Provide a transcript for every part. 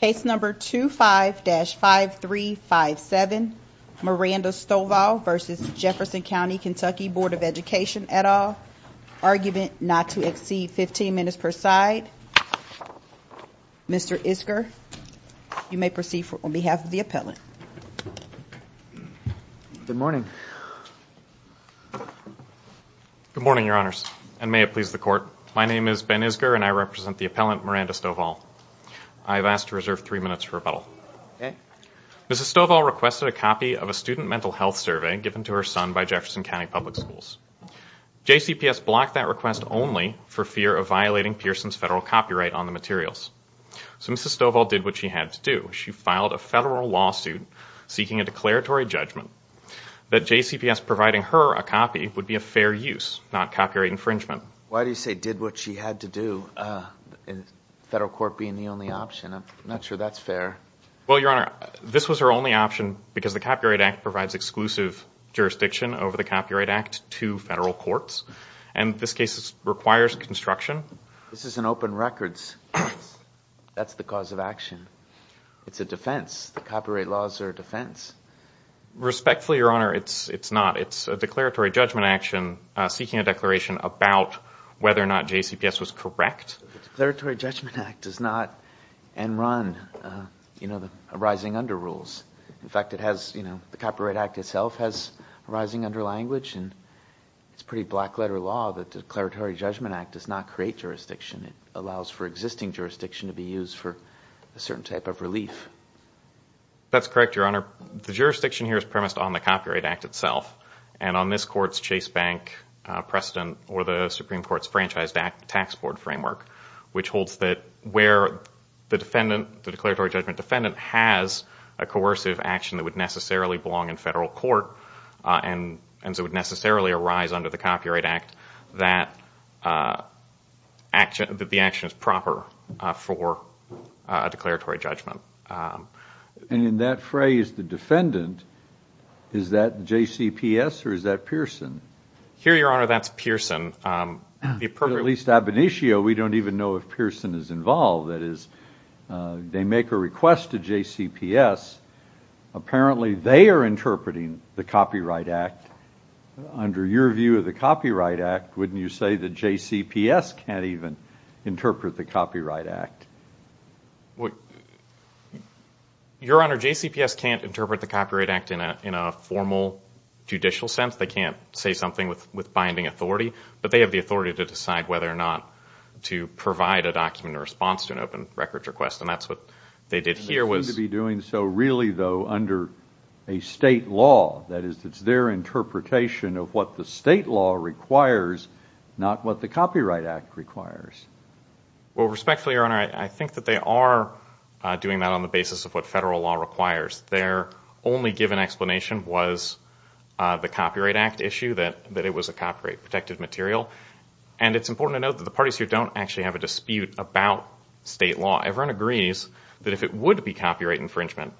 Case number 25-5357, Miranda Stovall v. Jefferson Co KY Bd of Ed at all, argument not to exceed 15 minutes per side. Mr. Isger, you may proceed on behalf of the appellant. Good morning. Good morning, your honors, and may it please the court. My name is Ben Isger, and I represent the appellant, Miranda Stovall. I have asked to reserve three minutes for rebuttal. Mrs. Stovall requested a copy of a student mental health survey given to her son by Jefferson County Public Schools. JCPS blocked that request only for fear of violating Pearson's federal copyright on the materials. So Mrs. Stovall did what she had to do. She filed a federal lawsuit seeking a declaratory judgment that JCPS providing her a copy would be a fair use, not copyright infringement. Why do you say did what she had to do, federal court being the only option? I'm not sure that's fair. Well, your honor, this was her only option because the Copyright Act provides exclusive jurisdiction over the Copyright Act to federal courts. And this case requires construction. This is an open records case. That's the cause of action. It's a defense. The copyright laws are a defense. Respectfully, your honor, it's not. It's a declaratory judgment action seeking a declaration about whether or not JCPS was correct. The Declaratory Judgment Act does not end run, you know, arising under rules. In fact, it has, you know, the Copyright Act itself has arising under language. And it's pretty black letter law that the Declaratory Judgment Act does not create jurisdiction. It allows for existing jurisdiction to be used for a certain type of relief. That's correct, your honor. Your honor, the jurisdiction here is premised on the Copyright Act itself. And on this court's Chase Bank precedent or the Supreme Court's Franchise Tax Board Framework, which holds that where the defendant, the declaratory judgment defendant, has a coercive action that would necessarily belong in federal court and so it would necessarily arise under the Copyright Act that the action is proper for a declaratory judgment. And in that phrase, the defendant, is that JCPS or is that Pearson? Here, your honor, that's Pearson. At least ab initio, we don't even know if Pearson is involved. That is, they make a request to JCPS. Apparently, they are interpreting the Copyright Act. Under your view of the Copyright Act, wouldn't you say that JCPS can't even interpret the Copyright Act? Your honor, JCPS can't interpret the Copyright Act in a formal judicial sense. They can't say something with binding authority. But they have the authority to decide whether or not to provide a document in response to an open records request. And that's what they did here. They seem to be doing so really, though, under a state law. That is, it's their interpretation of what the state law requires, not what the Copyright Act requires. Well, respectfully, your honor, I think that they are doing that on the basis of what federal law requires. Their only given explanation was the Copyright Act issue, that it was a copyright protected material. And it's important to note that the parties here don't actually have a dispute about state law. Everyone agrees that if it would be copyright infringement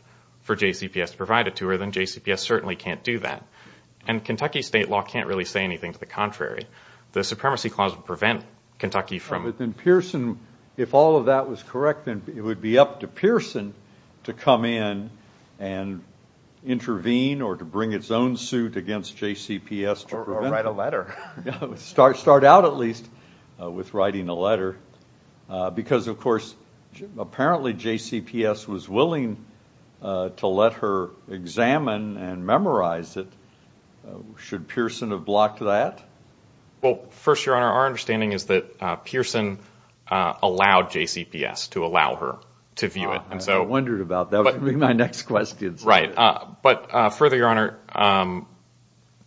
for JCPS to provide it to her, then JCPS certainly can't do that. And Kentucky state law can't really say anything to the contrary. The Supremacy Clause would prevent Kentucky from- But then Pearson, if all of that was correct, then it would be up to Pearson to come in and intervene or to bring its own suit against JCPS to prevent- Or write a letter. Start out, at least, with writing a letter. Because, of course, apparently JCPS was willing to let her examine and memorize it. Should Pearson have blocked that? Well, first, your honor, our understanding is that Pearson allowed JCPS to allow her to view it. I wondered about that. That would be my next question. Right. But further, your honor,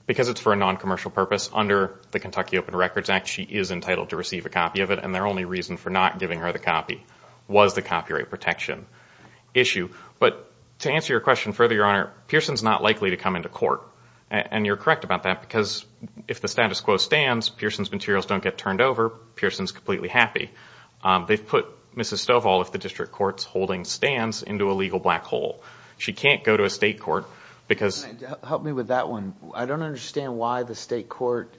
because it's for a noncommercial purpose, under the Kentucky Open Records Act, she is entitled to receive a copy of it. And their only reason for not giving her the copy was the copyright protection issue. But to answer your question further, your honor, Pearson's not likely to come into court. And you're correct about that because if the status quo stands, Pearson's materials don't get turned over. Pearson's completely happy. They've put Mrs. Stovall, if the district court's holding, stands into a legal black hole. She can't go to a state court because- Help me with that one. I don't understand why the state court-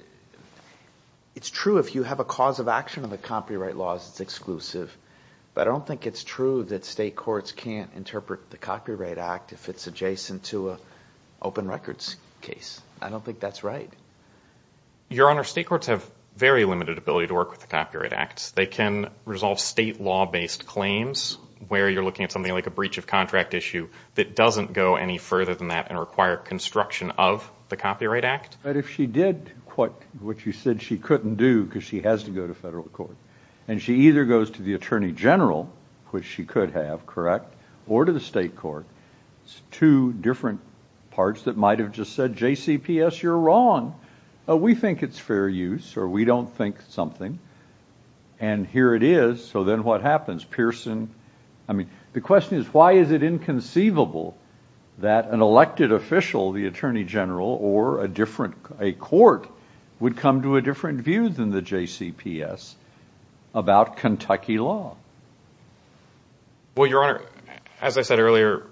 It's true if you have a cause of action of the copyright laws, it's exclusive. But I don't think it's true that state courts can't interpret the Copyright Act if it's adjacent to an open records case. I don't think that's right. Your honor, state courts have very limited ability to work with the Copyright Act. They can resolve state law-based claims where you're looking at something like a breach of contract issue that doesn't go any further than that and require construction of the Copyright Act. But if she did what you said she couldn't do because she has to go to federal court and she either goes to the Attorney General, which she could have, correct, or to the state court, two different parts that might have just said, JCPS, you're wrong. We think it's fair use or we don't think something. And here it is. So then what happens? Pearson- I mean, the question is, why is it inconceivable that an elected official, the Attorney General, or a court would come to a different view than the JCPS about Kentucky law? Well, your honor, as I said earlier,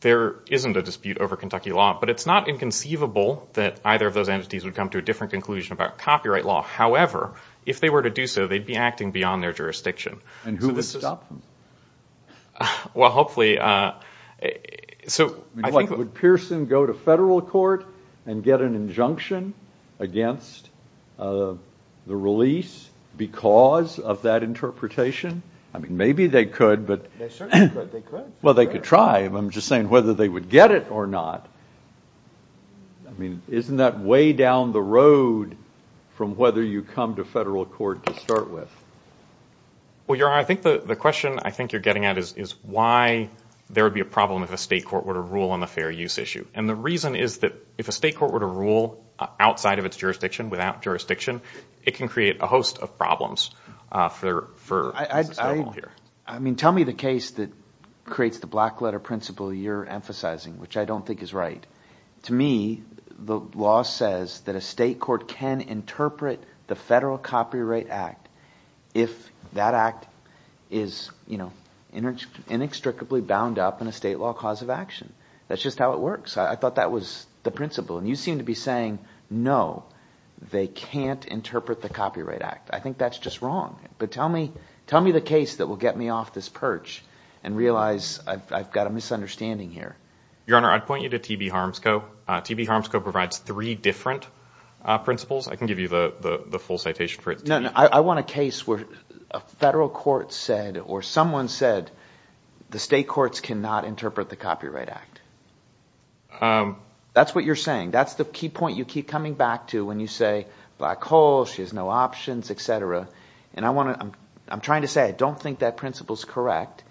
there isn't a dispute over Kentucky law. But it's not inconceivable that either of those entities would come to a different conclusion about copyright law. However, if they were to do so, they'd be acting beyond their jurisdiction. And who would stop them? Well, hopefully. So I think- Pearson- Would Pearson go to federal court and get an injunction against the release because of that interpretation? I mean, maybe they could, but- They certainly could. They could. Well, they could try. I'm just saying whether they would get it or not. I mean, isn't that way down the road from whether you come to federal court to start with? Well, your honor, I think the question you're getting at is why there would be a problem if a state court were to rule on a fair use issue. And the reason is that if a state court were to rule outside of its jurisdiction, without jurisdiction, it can create a host of problems for- I mean, tell me the case that creates the black letter principle you're emphasizing, which I don't think is right. To me, the law says that a state court can interpret the Federal Copyright Act if that act is inextricably bound up in a state law cause of action. That's just how it works. I thought that was the principle. And you seem to be saying, no, they can't interpret the Copyright Act. I think that's just wrong. But tell me the case that will get me off this perch and realize I've got a misunderstanding here. Your honor, I'd point you to T.B. Harmsco. T.B. Harmsco provides three different principles. I can give you the full citation for it. No, no. I want a case where a federal court said or someone said the state courts cannot interpret the Copyright Act. That's what you're saying. That's the key point you keep coming back to when you say Black Hole, she has no options, etc. And I want to – I'm trying to say I don't think that principle is correct,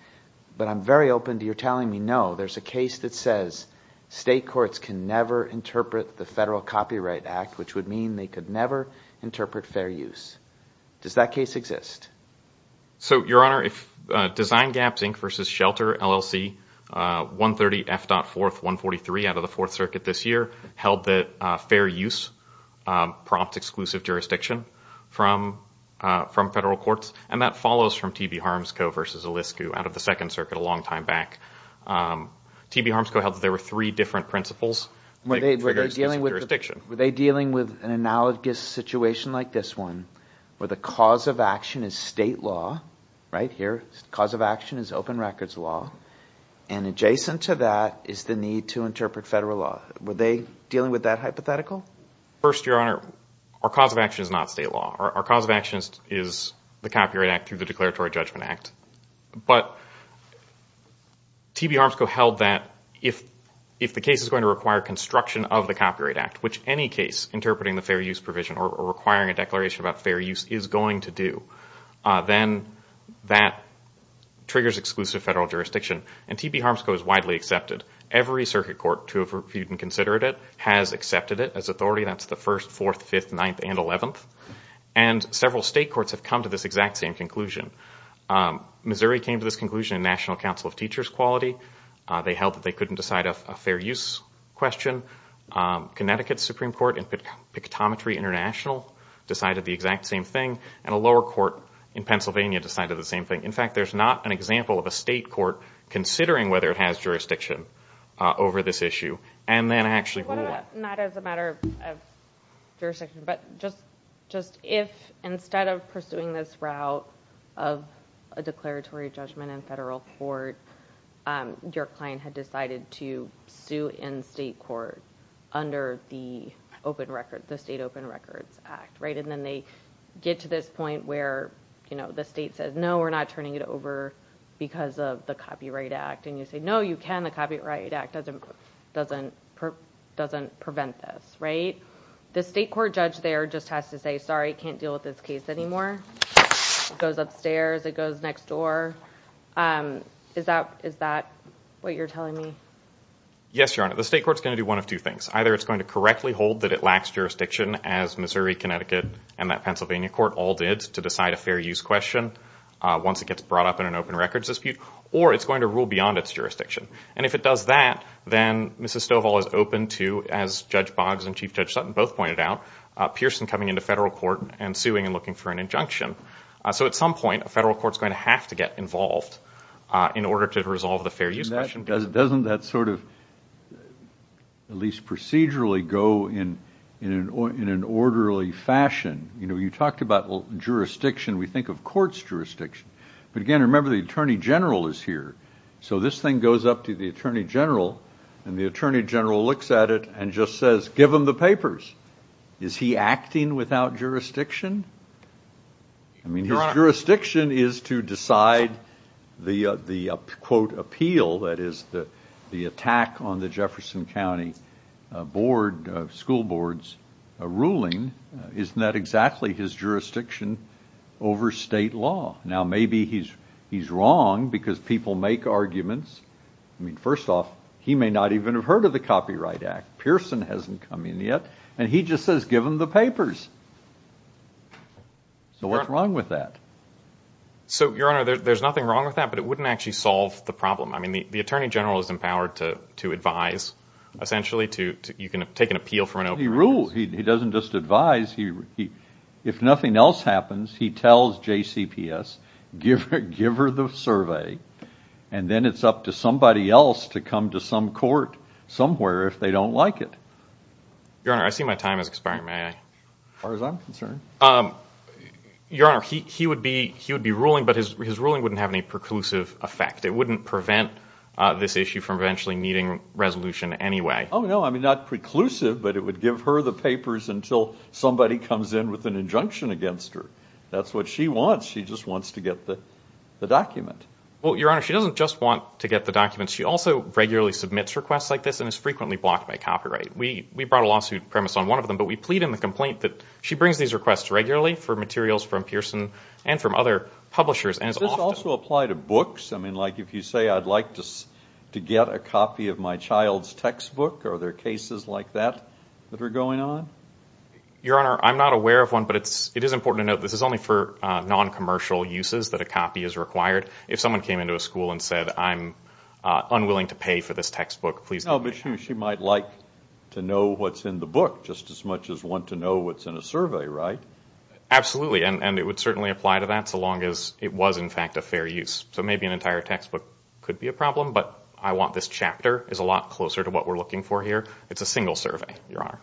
but I'm very open to your telling me no. There's a case that says state courts can never interpret the Federal Copyright Act, which would mean they could never interpret fair use. Does that case exist? So, your honor, if Design Gaps Inc. v. Shelter LLC, 130 F.4th 143 out of the Fourth Circuit this year, held that fair use prompts exclusive jurisdiction from federal courts, and that follows from T.B. Harmsco v. Eliscu out of the Second Circuit a long time back. T.B. Harmsco held that there were three different principles. Were they dealing with an analogous situation like this one where the cause of action is state law, right here? The cause of action is open records law, and adjacent to that is the need to interpret federal law. Were they dealing with that hypothetical? First, your honor, our cause of action is not state law. Our cause of action is the Copyright Act through the Declaratory Judgment Act. But T.B. Harmsco held that if the case is going to require construction of the Copyright Act, which any case interpreting the fair use provision or requiring a declaration about fair use is going to do, then that triggers exclusive federal jurisdiction. And T.B. Harmsco is widely accepted. Every circuit court to have reviewed and considered it has accepted it as authority. That's the 1st, 4th, 5th, 9th, and 11th. And several state courts have come to this exact same conclusion. Missouri came to this conclusion in National Council of Teachers' Quality. They held that they couldn't decide a fair use question. Connecticut's Supreme Court in Pictometry International decided the exact same thing, and a lower court in Pennsylvania decided the same thing. In fact, there's not an example of a state court considering whether it has jurisdiction over this issue and then actually rule it. Not as a matter of jurisdiction, but just if instead of pursuing this route of a declaratory judgment in federal court, your client had decided to sue in state court under the State Open Records Act. And then they get to this point where the state says, no, we're not turning it over because of the Copyright Act. And you say, no, you can. The Copyright Act doesn't prevent this. The state court judge there just has to say, sorry, can't deal with this case anymore. It goes upstairs. It goes next door. Is that what you're telling me? Yes, Your Honor. The state court's going to do one of two things. Either it's going to correctly hold that it lacks jurisdiction, as Missouri, Connecticut, and that Pennsylvania court all did to decide a fair use question once it gets brought up in an open records dispute, or it's going to rule beyond its jurisdiction. And if it does that, then Mrs. Stovall is open to, as Judge Boggs and Chief Judge Sutton both pointed out, Pearson coming into federal court and suing and looking for an injunction. So at some point, a federal court's going to have to get involved in order to resolve the fair use question. Doesn't that sort of at least procedurally go in an orderly fashion? You know, you talked about jurisdiction. We think of court's jurisdiction. But, again, remember the Attorney General is here. So this thing goes up to the Attorney General, and the Attorney General looks at it and just says, give him the papers. Is he acting without jurisdiction? I mean, his jurisdiction is to decide the, quote, appeal, that is, the attack on the Jefferson County School Board's ruling. Isn't that exactly his jurisdiction over state law? Now, maybe he's wrong because people make arguments. I mean, first off, he may not even have heard of the Copyright Act. Pearson hasn't come in yet, and he just says, give him the papers. So what's wrong with that? So, Your Honor, there's nothing wrong with that, but it wouldn't actually solve the problem. I mean, the Attorney General is empowered to advise, essentially. You can take an appeal from an open case. He rules. He doesn't just advise. If nothing else happens, he tells JCPS, give her the survey, and then it's up to somebody else to come to some court somewhere if they don't like it. Your Honor, I see my time is expiring. May I? As far as I'm concerned. Your Honor, he would be ruling, but his ruling wouldn't have any preclusive effect. It wouldn't prevent this issue from eventually meeting resolution anyway. Oh, no, I mean, not preclusive, but it would give her the papers until somebody comes in with an injunction against her. That's what she wants. She just wants to get the document. Well, Your Honor, she doesn't just want to get the document. She also regularly submits requests like this and is frequently blocked by copyright. We brought a lawsuit premise on one of them, but we plead in the complaint that she brings these requests regularly for materials from Pearson and from other publishers and is often- Does this also apply to books? I mean, like if you say I'd like to get a copy of my child's textbook, are there cases like that that are going on? Your Honor, I'm not aware of one, but it is important to note this is only for noncommercial uses, that a copy is required. If someone came into a school and said, I'm unwilling to pay for this textbook, please give me a copy. But she might like to know what's in the book just as much as want to know what's in a survey, right? Absolutely, and it would certainly apply to that so long as it was, in fact, a fair use. So maybe an entire textbook could be a problem, but I want this chapter. It's a lot closer to what we're looking for here. It's a single survey, Your Honor.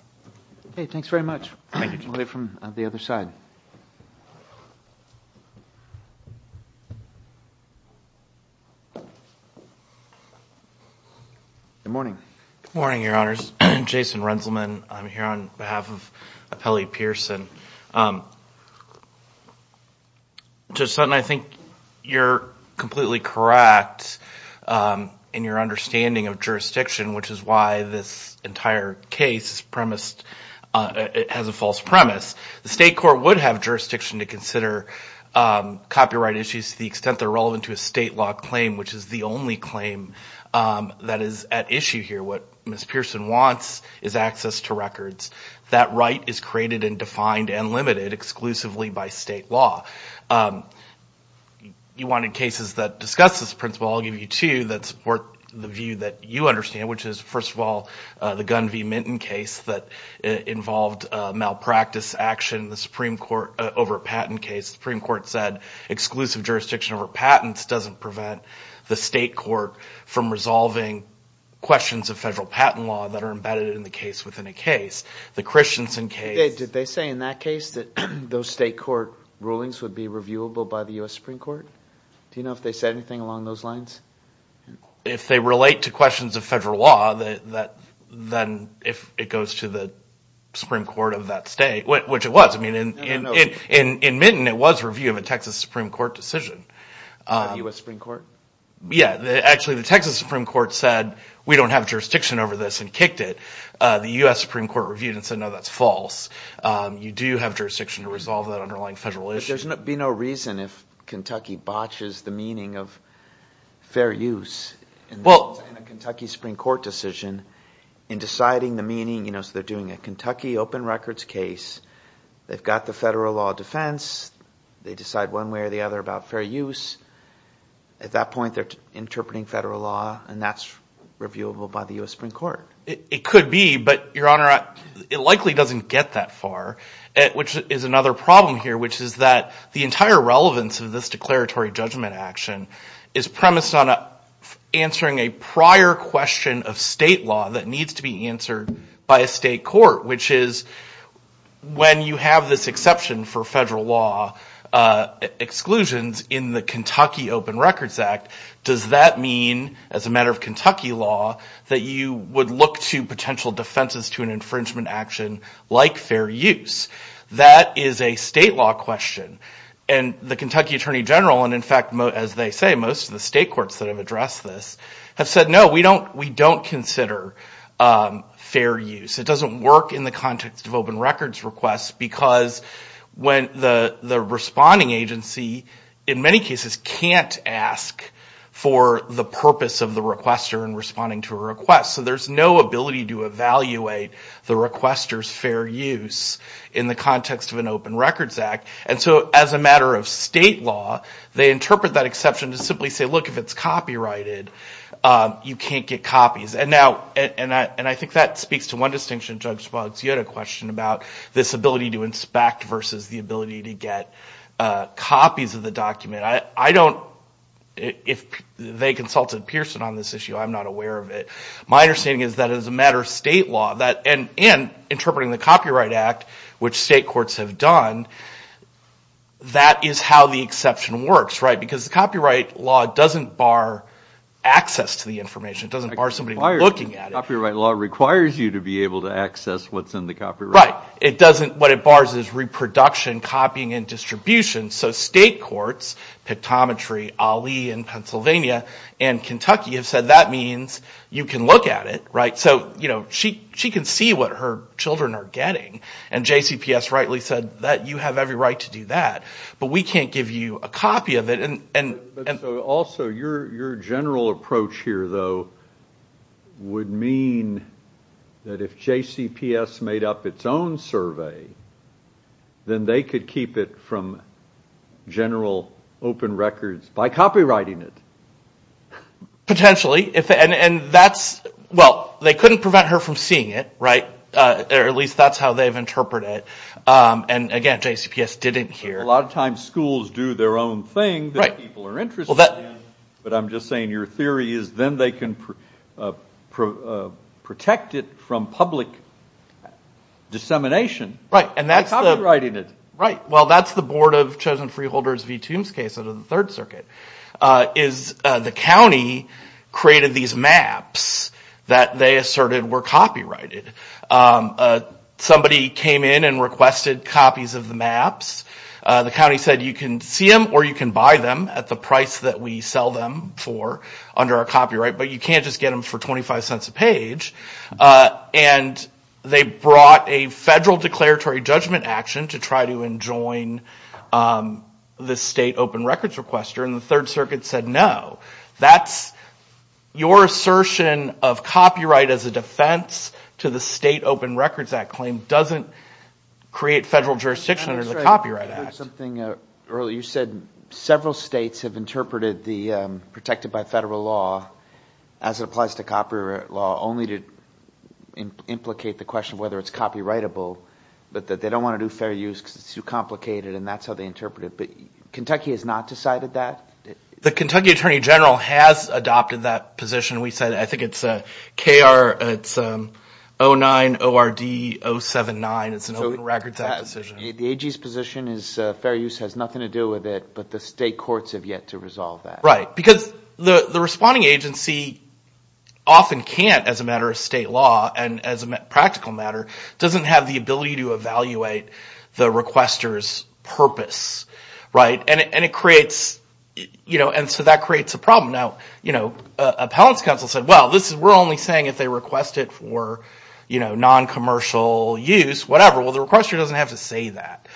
Okay, thanks very much. Thank you. We'll hear from the other side. Good morning. Good morning, Your Honors. Jason Renselman here on behalf of Appellee Pearson. Judge Sutton, I think you're completely correct in your understanding of jurisdiction, which is why this entire case has a false premise. The state court would have jurisdiction to consider copyright issues to the extent they're relevant to a state law claim, which is the only claim that is at issue here. What Ms. Pearson wants is access to records. That right is created and defined and limited exclusively by state law. You wanted cases that discuss this principle. I'll give you two that support the view that you understand, which is, first of all, the Gunn v. Minton case that involved malpractice action in the Supreme Court over a patent case. The Supreme Court said exclusive jurisdiction over patents doesn't prevent the state court from resolving questions of federal patent law that are embedded in the case within a case. The Christensen case – Did they say in that case that those state court rulings would be reviewable by the U.S. Supreme Court? Do you know if they said anything along those lines? If they relate to questions of federal law, then if it goes to the Supreme Court of that state, which it was. I mean, in Minton, it was review of a Texas Supreme Court decision. The U.S. Supreme Court? Yeah. Actually, the Texas Supreme Court said we don't have jurisdiction over this and kicked it. The U.S. Supreme Court reviewed it and said, no, that's false. You do have jurisdiction to resolve that underlying federal issue. There would be no reason if Kentucky botches the meaning of fair use in a Kentucky Supreme Court decision in deciding the meaning. So they're doing a Kentucky open records case. They've got the federal law defense. They decide one way or the other about fair use. At that point, they're interpreting federal law, and that's reviewable by the U.S. Supreme Court. It could be, but, Your Honor, it likely doesn't get that far, which is another problem here, which is that the entire relevance of this declaratory judgment action is premised on answering a prior question of state law that needs to be answered by a state court, which is when you have this exception for federal law exclusions in the Kentucky Open Records Act, does that mean, as a matter of Kentucky law, that you would look to potential defenses to an infringement action like fair use? That is a state law question, and the Kentucky Attorney General, and, in fact, as they say, most of the state courts that have addressed this, have said, no, we don't consider fair use. It doesn't work in the context of open records requests because when the responding agency, in many cases, can't ask for the purpose of the requester in responding to a request. So there's no ability to evaluate the requester's fair use in the context of an open records act. And so as a matter of state law, they interpret that exception to simply say, look, if it's copyrighted, you can't get copies. And I think that speaks to one distinction, Judge Boggs. You had a question about this ability to inspect versus the ability to get copies of the document. I don't, if they consulted Pearson on this issue, I'm not aware of it. My understanding is that as a matter of state law, and interpreting the Copyright Act, which state courts have done, that is how the exception works, right, because the copyright law doesn't bar access to the information. It doesn't bar somebody looking at it. Copyright law requires you to be able to access what's in the copyright. Right. It doesn't. What it bars is reproduction, copying, and distribution. So state courts, Pictometry, Ali in Pennsylvania, and Kentucky have said, that means you can look at it, right. So, you know, she can see what her children are getting. And JCPS rightly said that you have every right to do that. But we can't give you a copy of it. Also, your general approach here, though, would mean that if JCPS made up its own survey, then they could keep it from general open records by copywriting it. Potentially. And that's, well, they couldn't prevent her from seeing it, right, or at least that's how they've interpreted it. And, again, JCPS didn't here. A lot of times schools do their own thing that people are interested in. But I'm just saying your theory is then they can protect it from public dissemination. Right. By copywriting it. Right. Well, that's the Board of Chosen Freeholders v. Toombs case under the Third Circuit. The county created these maps that they asserted were copyrighted. Somebody came in and requested copies of the maps. The county said you can see them or you can buy them at the price that we sell them for under our copyright, but you can't just get them for 25 cents a page. And they brought a federal declaratory judgment action to try to enjoin the state open records requester. And the Third Circuit said no. That's your assertion of copyright as a defense to the State Open Records Act claim doesn't create federal jurisdiction under the Copyright Act. You said several states have interpreted the protected by federal law as it applies to copyright law only to implicate the question of whether it's copyrightable, but that they don't want to do fair use because it's too complicated and that's how they interpret it. But Kentucky has not decided that? The Kentucky Attorney General has adopted that position. We said I think it's K-R-O-9-O-R-D-O-7-9. It's an Open Records Act decision. The AG's position is fair use has nothing to do with it, but the state courts have yet to resolve that. Right, because the responding agency often can't as a matter of state law and as a practical matter doesn't have the ability to evaluate the requester's purpose. And it creates, you know, and so that creates a problem. Now, you know, appellant's counsel said, well, we're only saying if they request it for, you know, non-commercial use, whatever. Well, the requester doesn't have to say that.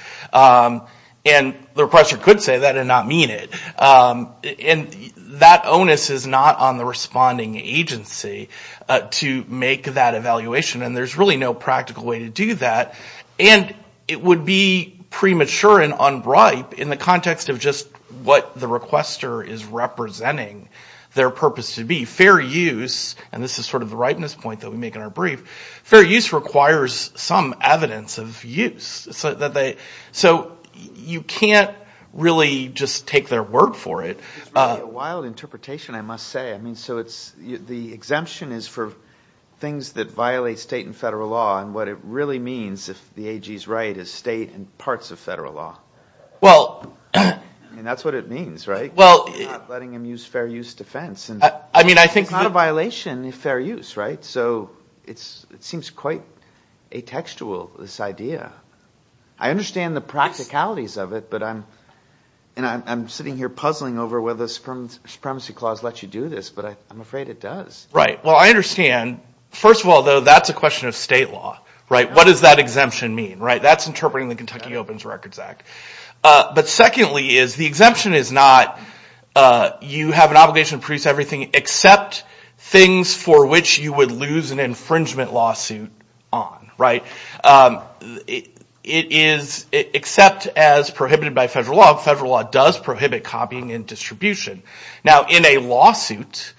And the requester could say that and not mean it. And that onus is not on the responding agency to make that evaluation and there's really no practical way to do that. And it would be premature and unbribe in the context of just what the requester is representing their purpose to be. Fair use, and this is sort of the ripeness point that we make in our brief, fair use requires some evidence of use. So you can't really just take their word for it. It's really a wild interpretation, I must say. I mean, so it's the exemption is for things that violate state and federal law. And what it really means, if the AG's right, is state and parts of federal law. And that's what it means, right? Not letting them use fair use defense. It's not a violation of fair use, right? So it seems quite atextual, this idea. I understand the practicalities of it, but I'm sitting here puzzling over whether the Supremacy Clause lets you do this, but I'm afraid it does. Right, well, I understand. First of all, though, that's a question of state law, right? What does that exemption mean, right? That's interpreting the Kentucky Opens Records Act. But secondly is the exemption is not you have an obligation to produce everything except things for which you would lose an infringement lawsuit on, right? It is except as prohibited by federal law. Federal law does prohibit copying and distribution. Now, in a lawsuit,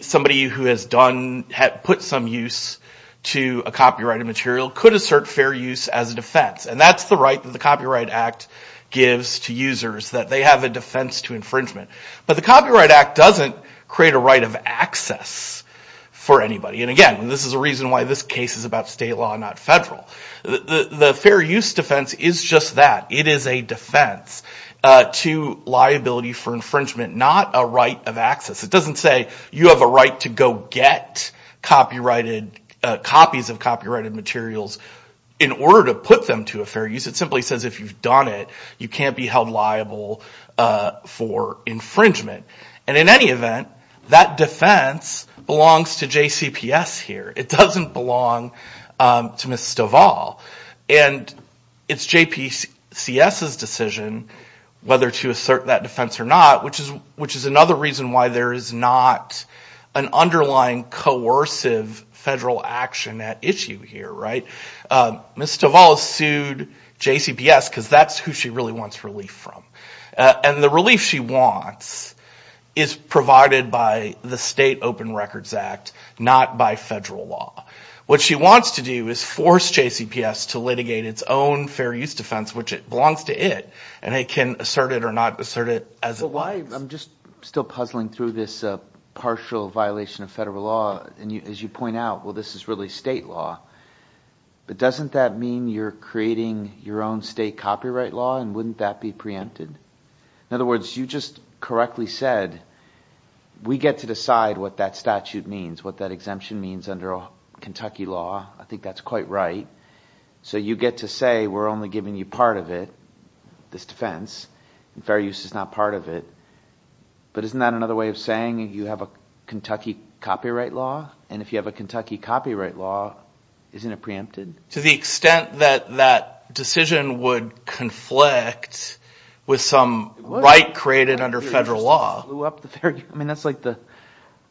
somebody who has put some use to a copyrighted material could assert fair use as a defense. And that's the right that the Copyright Act gives to users, that they have a defense to infringement. But the Copyright Act doesn't create a right of access for anybody. And again, this is the reason why this case is about state law and not federal. The fair use defense is just that. It is a defense to liability for infringement, not a right of access. It doesn't say you have a right to go get copies of copyrighted materials in order to put them to a fair use. It simply says if you've done it, you can't be held liable for infringement. And in any event, that defense belongs to JCPS here. It doesn't belong to Ms. Stovall. And it's JPCS's decision whether to assert that defense or not, which is another reason why there is not an underlying coercive federal action at issue here, right? Ms. Stovall sued JCPS because that's who she really wants relief from. And the relief she wants is provided by the State Open Records Act, not by federal law. What she wants to do is force JCPS to litigate its own fair use defense, which belongs to it, and it can assert it or not assert it as it lies. I'm just still puzzling through this partial violation of federal law. And as you point out, well, this is really state law. But doesn't that mean you're creating your own state copyright law, and wouldn't that be preempted? In other words, you just correctly said we get to decide what that statute means, what that exemption means under Kentucky law. I think that's quite right. So you get to say we're only giving you part of it, this defense, and fair use is not part of it. But isn't that another way of saying you have a Kentucky copyright law? And if you have a Kentucky copyright law, isn't it preempted? To the extent that that decision would conflict with some right created under federal law. I mean, that's like the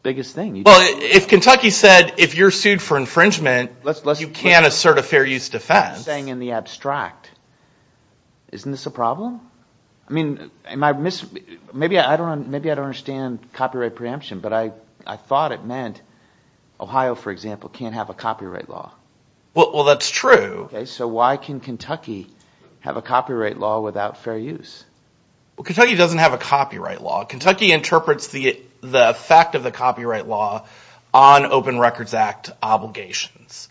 biggest thing. Well, if Kentucky said if you're sued for infringement, you can't assert a fair use defense. I'm saying in the abstract. Isn't this a problem? Maybe I don't understand copyright preemption, but I thought it meant Ohio, for example, can't have a copyright law. Well, that's true. So why can Kentucky have a copyright law without fair use? Well, Kentucky doesn't have a copyright law. Kentucky interprets the effect of the copyright law on Open Records Act obligations.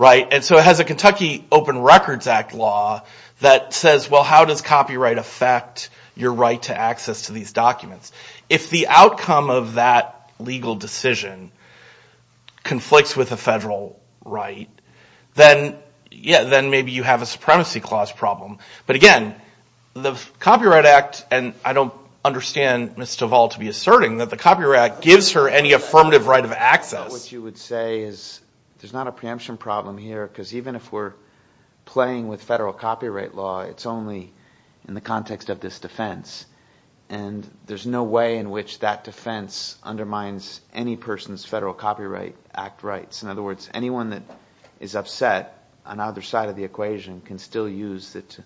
And so it has a Kentucky Open Records Act law that says, well, how does copyright affect your right to access to these documents? If the outcome of that legal decision conflicts with a federal right, then maybe you have a supremacy clause problem. But, again, the Copyright Act, and I don't understand Ms. Duvall to be asserting that the Copyright Act gives her any affirmative right of access. What you would say is there's not a preemption problem here because even if we're playing with federal copyright law, it's only in the context of this defense. And there's no way in which that defense undermines any person's federal copyright act rights. In other words, anyone that is upset on either side of the equation can still use it to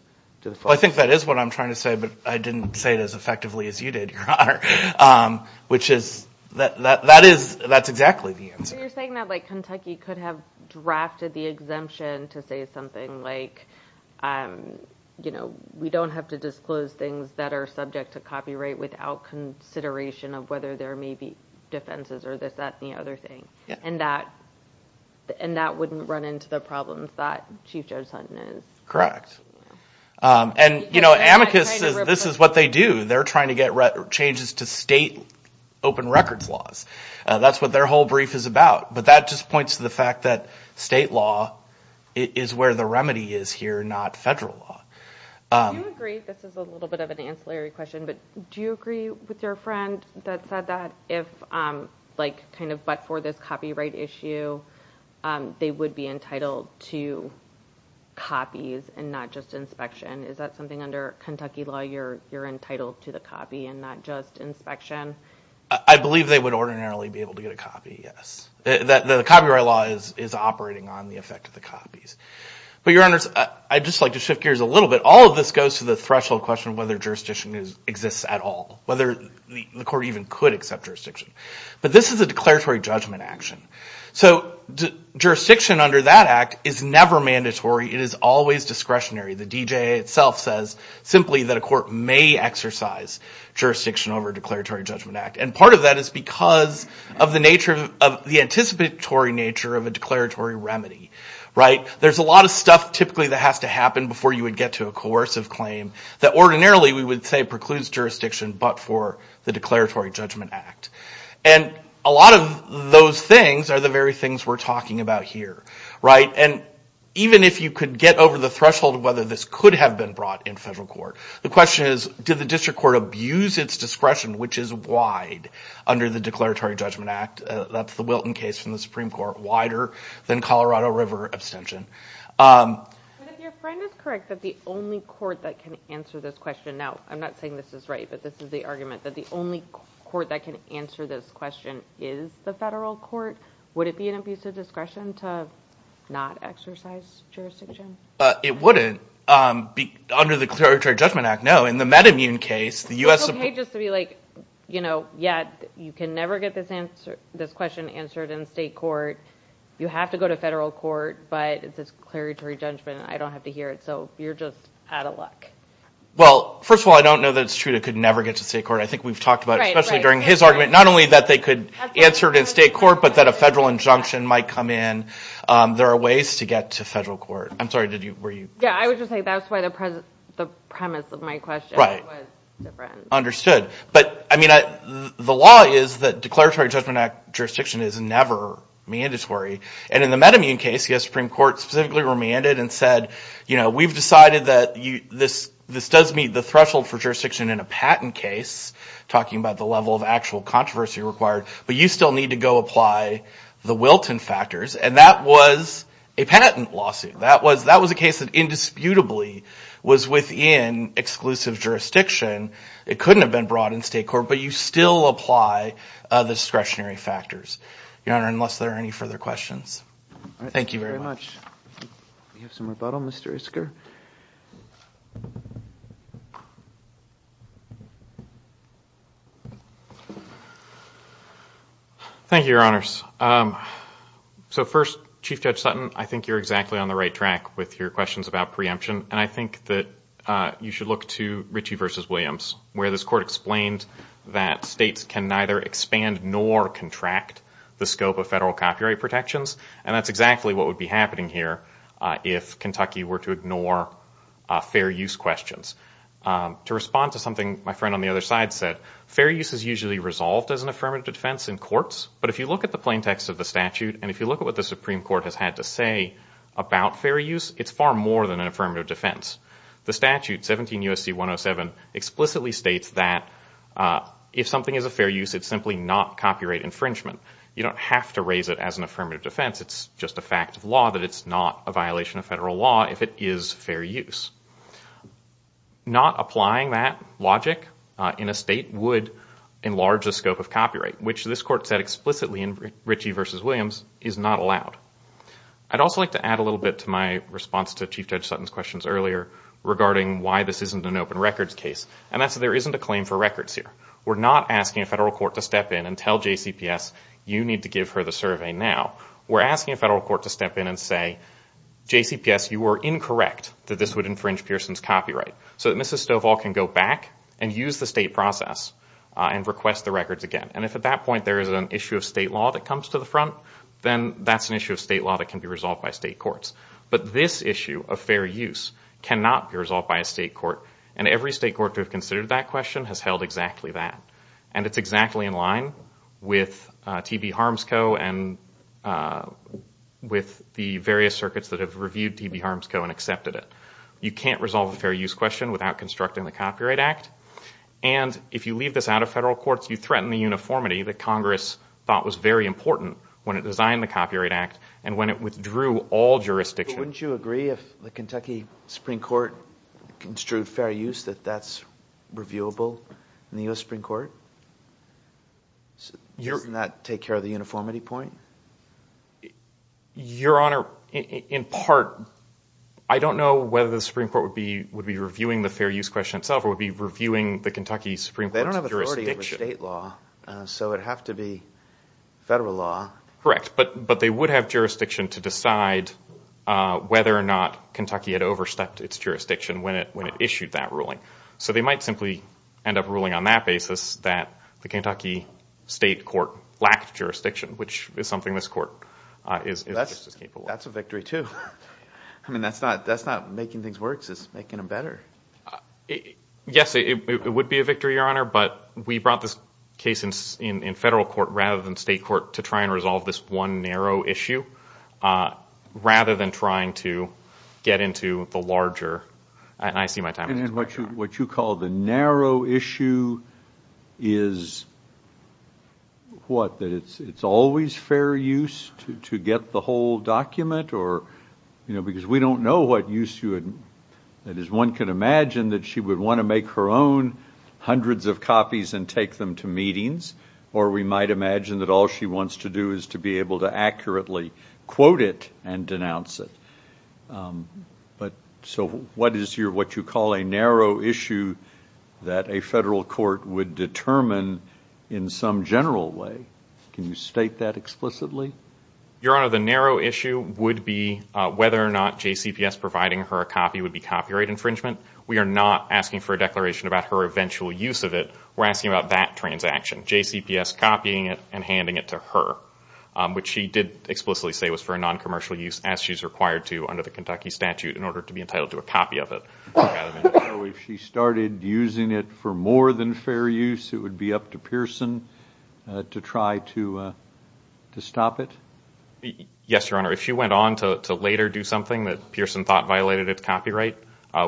the fullest. Well, I think that is what I'm trying to say, but I didn't say it as effectively as you did, Your Honor. Which is, that is, that's exactly the answer. So you're saying that, like, Kentucky could have drafted the exemption to say something like, you know, we don't have to disclose things that are subject to copyright without consideration of whether there may be defenses or this, that, and the other thing. And that wouldn't run into the problems that Chief Judge Sutton is. And, you know, amicus says this is what they do. They're trying to get changes to state open records laws. That's what their whole brief is about. But that just points to the fact that state law is where the remedy is here, not federal law. Do you agree, this is a little bit of an ancillary question, but do you agree with your friend that said that if, like, kind of but for this copyright issue, they would be entitled to copies and not just inspection? Is that something under Kentucky law you're entitled to the copy and not just inspection? I believe they would ordinarily be able to get a copy, yes. The copyright law is operating on the effect of the copies. But, Your Honors, I'd just like to shift gears a little bit. All of this goes to the threshold question of whether jurisdiction exists at all, whether the court even could accept jurisdiction. But this is a declaratory judgment action. So jurisdiction under that act is never mandatory. It is always discretionary. The DJA itself says simply that a court may exercise jurisdiction over a declaratory judgment act. And part of that is because of the nature of the anticipatory nature of a declaratory remedy, right? So there's a lot of stuff typically that has to happen before you would get to a coercive claim that ordinarily we would say precludes jurisdiction but for the declaratory judgment act. And a lot of those things are the very things we're talking about here, right? And even if you could get over the threshold of whether this could have been brought in federal court, the question is did the district court abuse its discretion, which is wide, under the declaratory judgment act? That's the Wilton case from the Supreme Court, wider than Colorado River abstention. But if your friend is correct that the only court that can answer this question, now I'm not saying this is right but this is the argument, that the only court that can answer this question is the federal court, would it be an abuse of discretion to not exercise jurisdiction? It wouldn't. Under the declaratory judgment act, no. It's okay just to be like, you know, yeah, you can never get this question answered in state court. You have to go to federal court but it's a declaratory judgment. I don't have to hear it. So you're just out of luck. Well, first of all, I don't know that it's true it could never get to state court. I think we've talked about it, especially during his argument, not only that they could answer it in state court but that a federal injunction might come in. There are ways to get to federal court. I'm sorry, were you? Yeah, I was just saying that's why the premise of my question was different. But, I mean, the law is that declaratory judgment act jurisdiction is never mandatory. And in the MedImmune case, yes, Supreme Court specifically remanded and said, you know, we've decided that this does meet the threshold for jurisdiction in a patent case, talking about the level of actual controversy required, but you still need to go apply the Wilton factors. And that was a patent lawsuit. That was a case that indisputably was within exclusive jurisdiction. It couldn't have been brought in state court, but you still apply the discretionary factors, Your Honor, unless there are any further questions. Thank you very much. We have some rebuttal, Mr. Isker. Thank you, Your Honors. So first, Chief Judge Sutton, I think you're exactly on the right track with your questions about preemption, and I think that you should look to Ritchie v. Williams, where this court explained that states can neither expand nor contract the scope of federal copyright protections, and that's exactly what would be happening here if Kentucky were to ignore fair use questions. To respond to something my friend on the other side said, fair use is usually resolved as an affirmative defense in courts, but if you look at the plain text of the statute, and if you look at what the Supreme Court has had to say about fair use, it's far more than an affirmative defense. The statute, 17 U.S.C. 107, explicitly states that if something is a fair use, it's simply not copyright infringement. You don't have to raise it as an affirmative defense. It's just a fact of law that it's not a violation of federal law if it is fair use. Not applying that logic in a state would enlarge the scope of copyright, which this court said explicitly in Ritchie v. Williams is not allowed. I'd also like to add a little bit to my response to Chief Judge Sutton's questions earlier regarding why this isn't an open records case, and that's that there isn't a claim for records here. We're not asking a federal court to step in and tell JCPS, you need to give her the survey now. We're asking a federal court to step in and say, JCPS, you are incorrect that this would infringe Pearson's copyright, so that Mrs. Stovall can go back and use the state process and request the records again. And if at that point there is an issue of state law that comes to the front, then that's an issue of state law that can be resolved by state courts. But this issue of fair use cannot be resolved by a state court, and every state court to have considered that question has held exactly that. And it's exactly in line with T.B. Harms Co. and with the various circuits that have reviewed T.B. Harms Co. and accepted it. You can't resolve a fair use question without constructing the Copyright Act. And if you leave this out of federal courts, you threaten the uniformity that Congress thought was very important when it designed the Copyright Act and when it withdrew all jurisdiction. But wouldn't you agree if the Kentucky Supreme Court construed fair use that that's reviewable in the U.S. Supreme Court? Doesn't that take care of the uniformity point? Your Honor, in part, I don't know whether the Supreme Court would be reviewing the fair use question itself or would be reviewing the Kentucky Supreme Court's jurisdiction. They don't have authority over state law, so it would have to be federal law. Correct, but they would have jurisdiction to decide whether or not Kentucky had overstepped its jurisdiction when it issued that ruling. So they might simply end up ruling on that basis that the Kentucky state court lacked jurisdiction, which is something this court is just as capable of. That's a victory too. I mean, that's not making things worse, it's making them better. Yes, it would be a victory, Your Honor, but we brought this case in federal court rather than state court to try and resolve this one narrow issue rather than trying to get into the larger. And I see my time has expired, Your Honor. And what you call the narrow issue is what? That it's always fair use to get the whole document? Because we don't know what use you had. That is, one could imagine that she would want to make her own hundreds of copies and take them to meetings, or we might imagine that all she wants to do is to be able to accurately quote it and denounce it. So what is what you call a narrow issue that a federal court would determine in some general way? Can you state that explicitly? Your Honor, the narrow issue would be whether or not JCPS providing her a copy would be copyright infringement. We are not asking for a declaration about her eventual use of it. We're asking about that transaction, JCPS copying it and handing it to her, which she did explicitly say was for noncommercial use, as she's required to under the Kentucky statute in order to be entitled to a copy of it. So if she started using it for more than fair use, it would be up to Pearson to try to stop it? Yes, Your Honor. If she went on to later do something that Pearson thought violated its copyright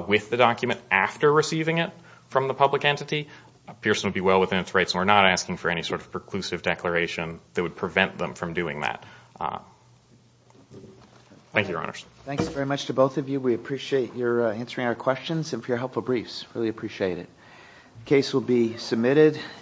with the document after receiving it from the public entity, Pearson would be well within its rights, and we're not asking for any sort of preclusive declaration that would prevent them from doing that. Thank you, Your Honors. Thanks very much to both of you. We appreciate your answering our questions and for your helpful briefs. Really appreciate it. The case will be submitted.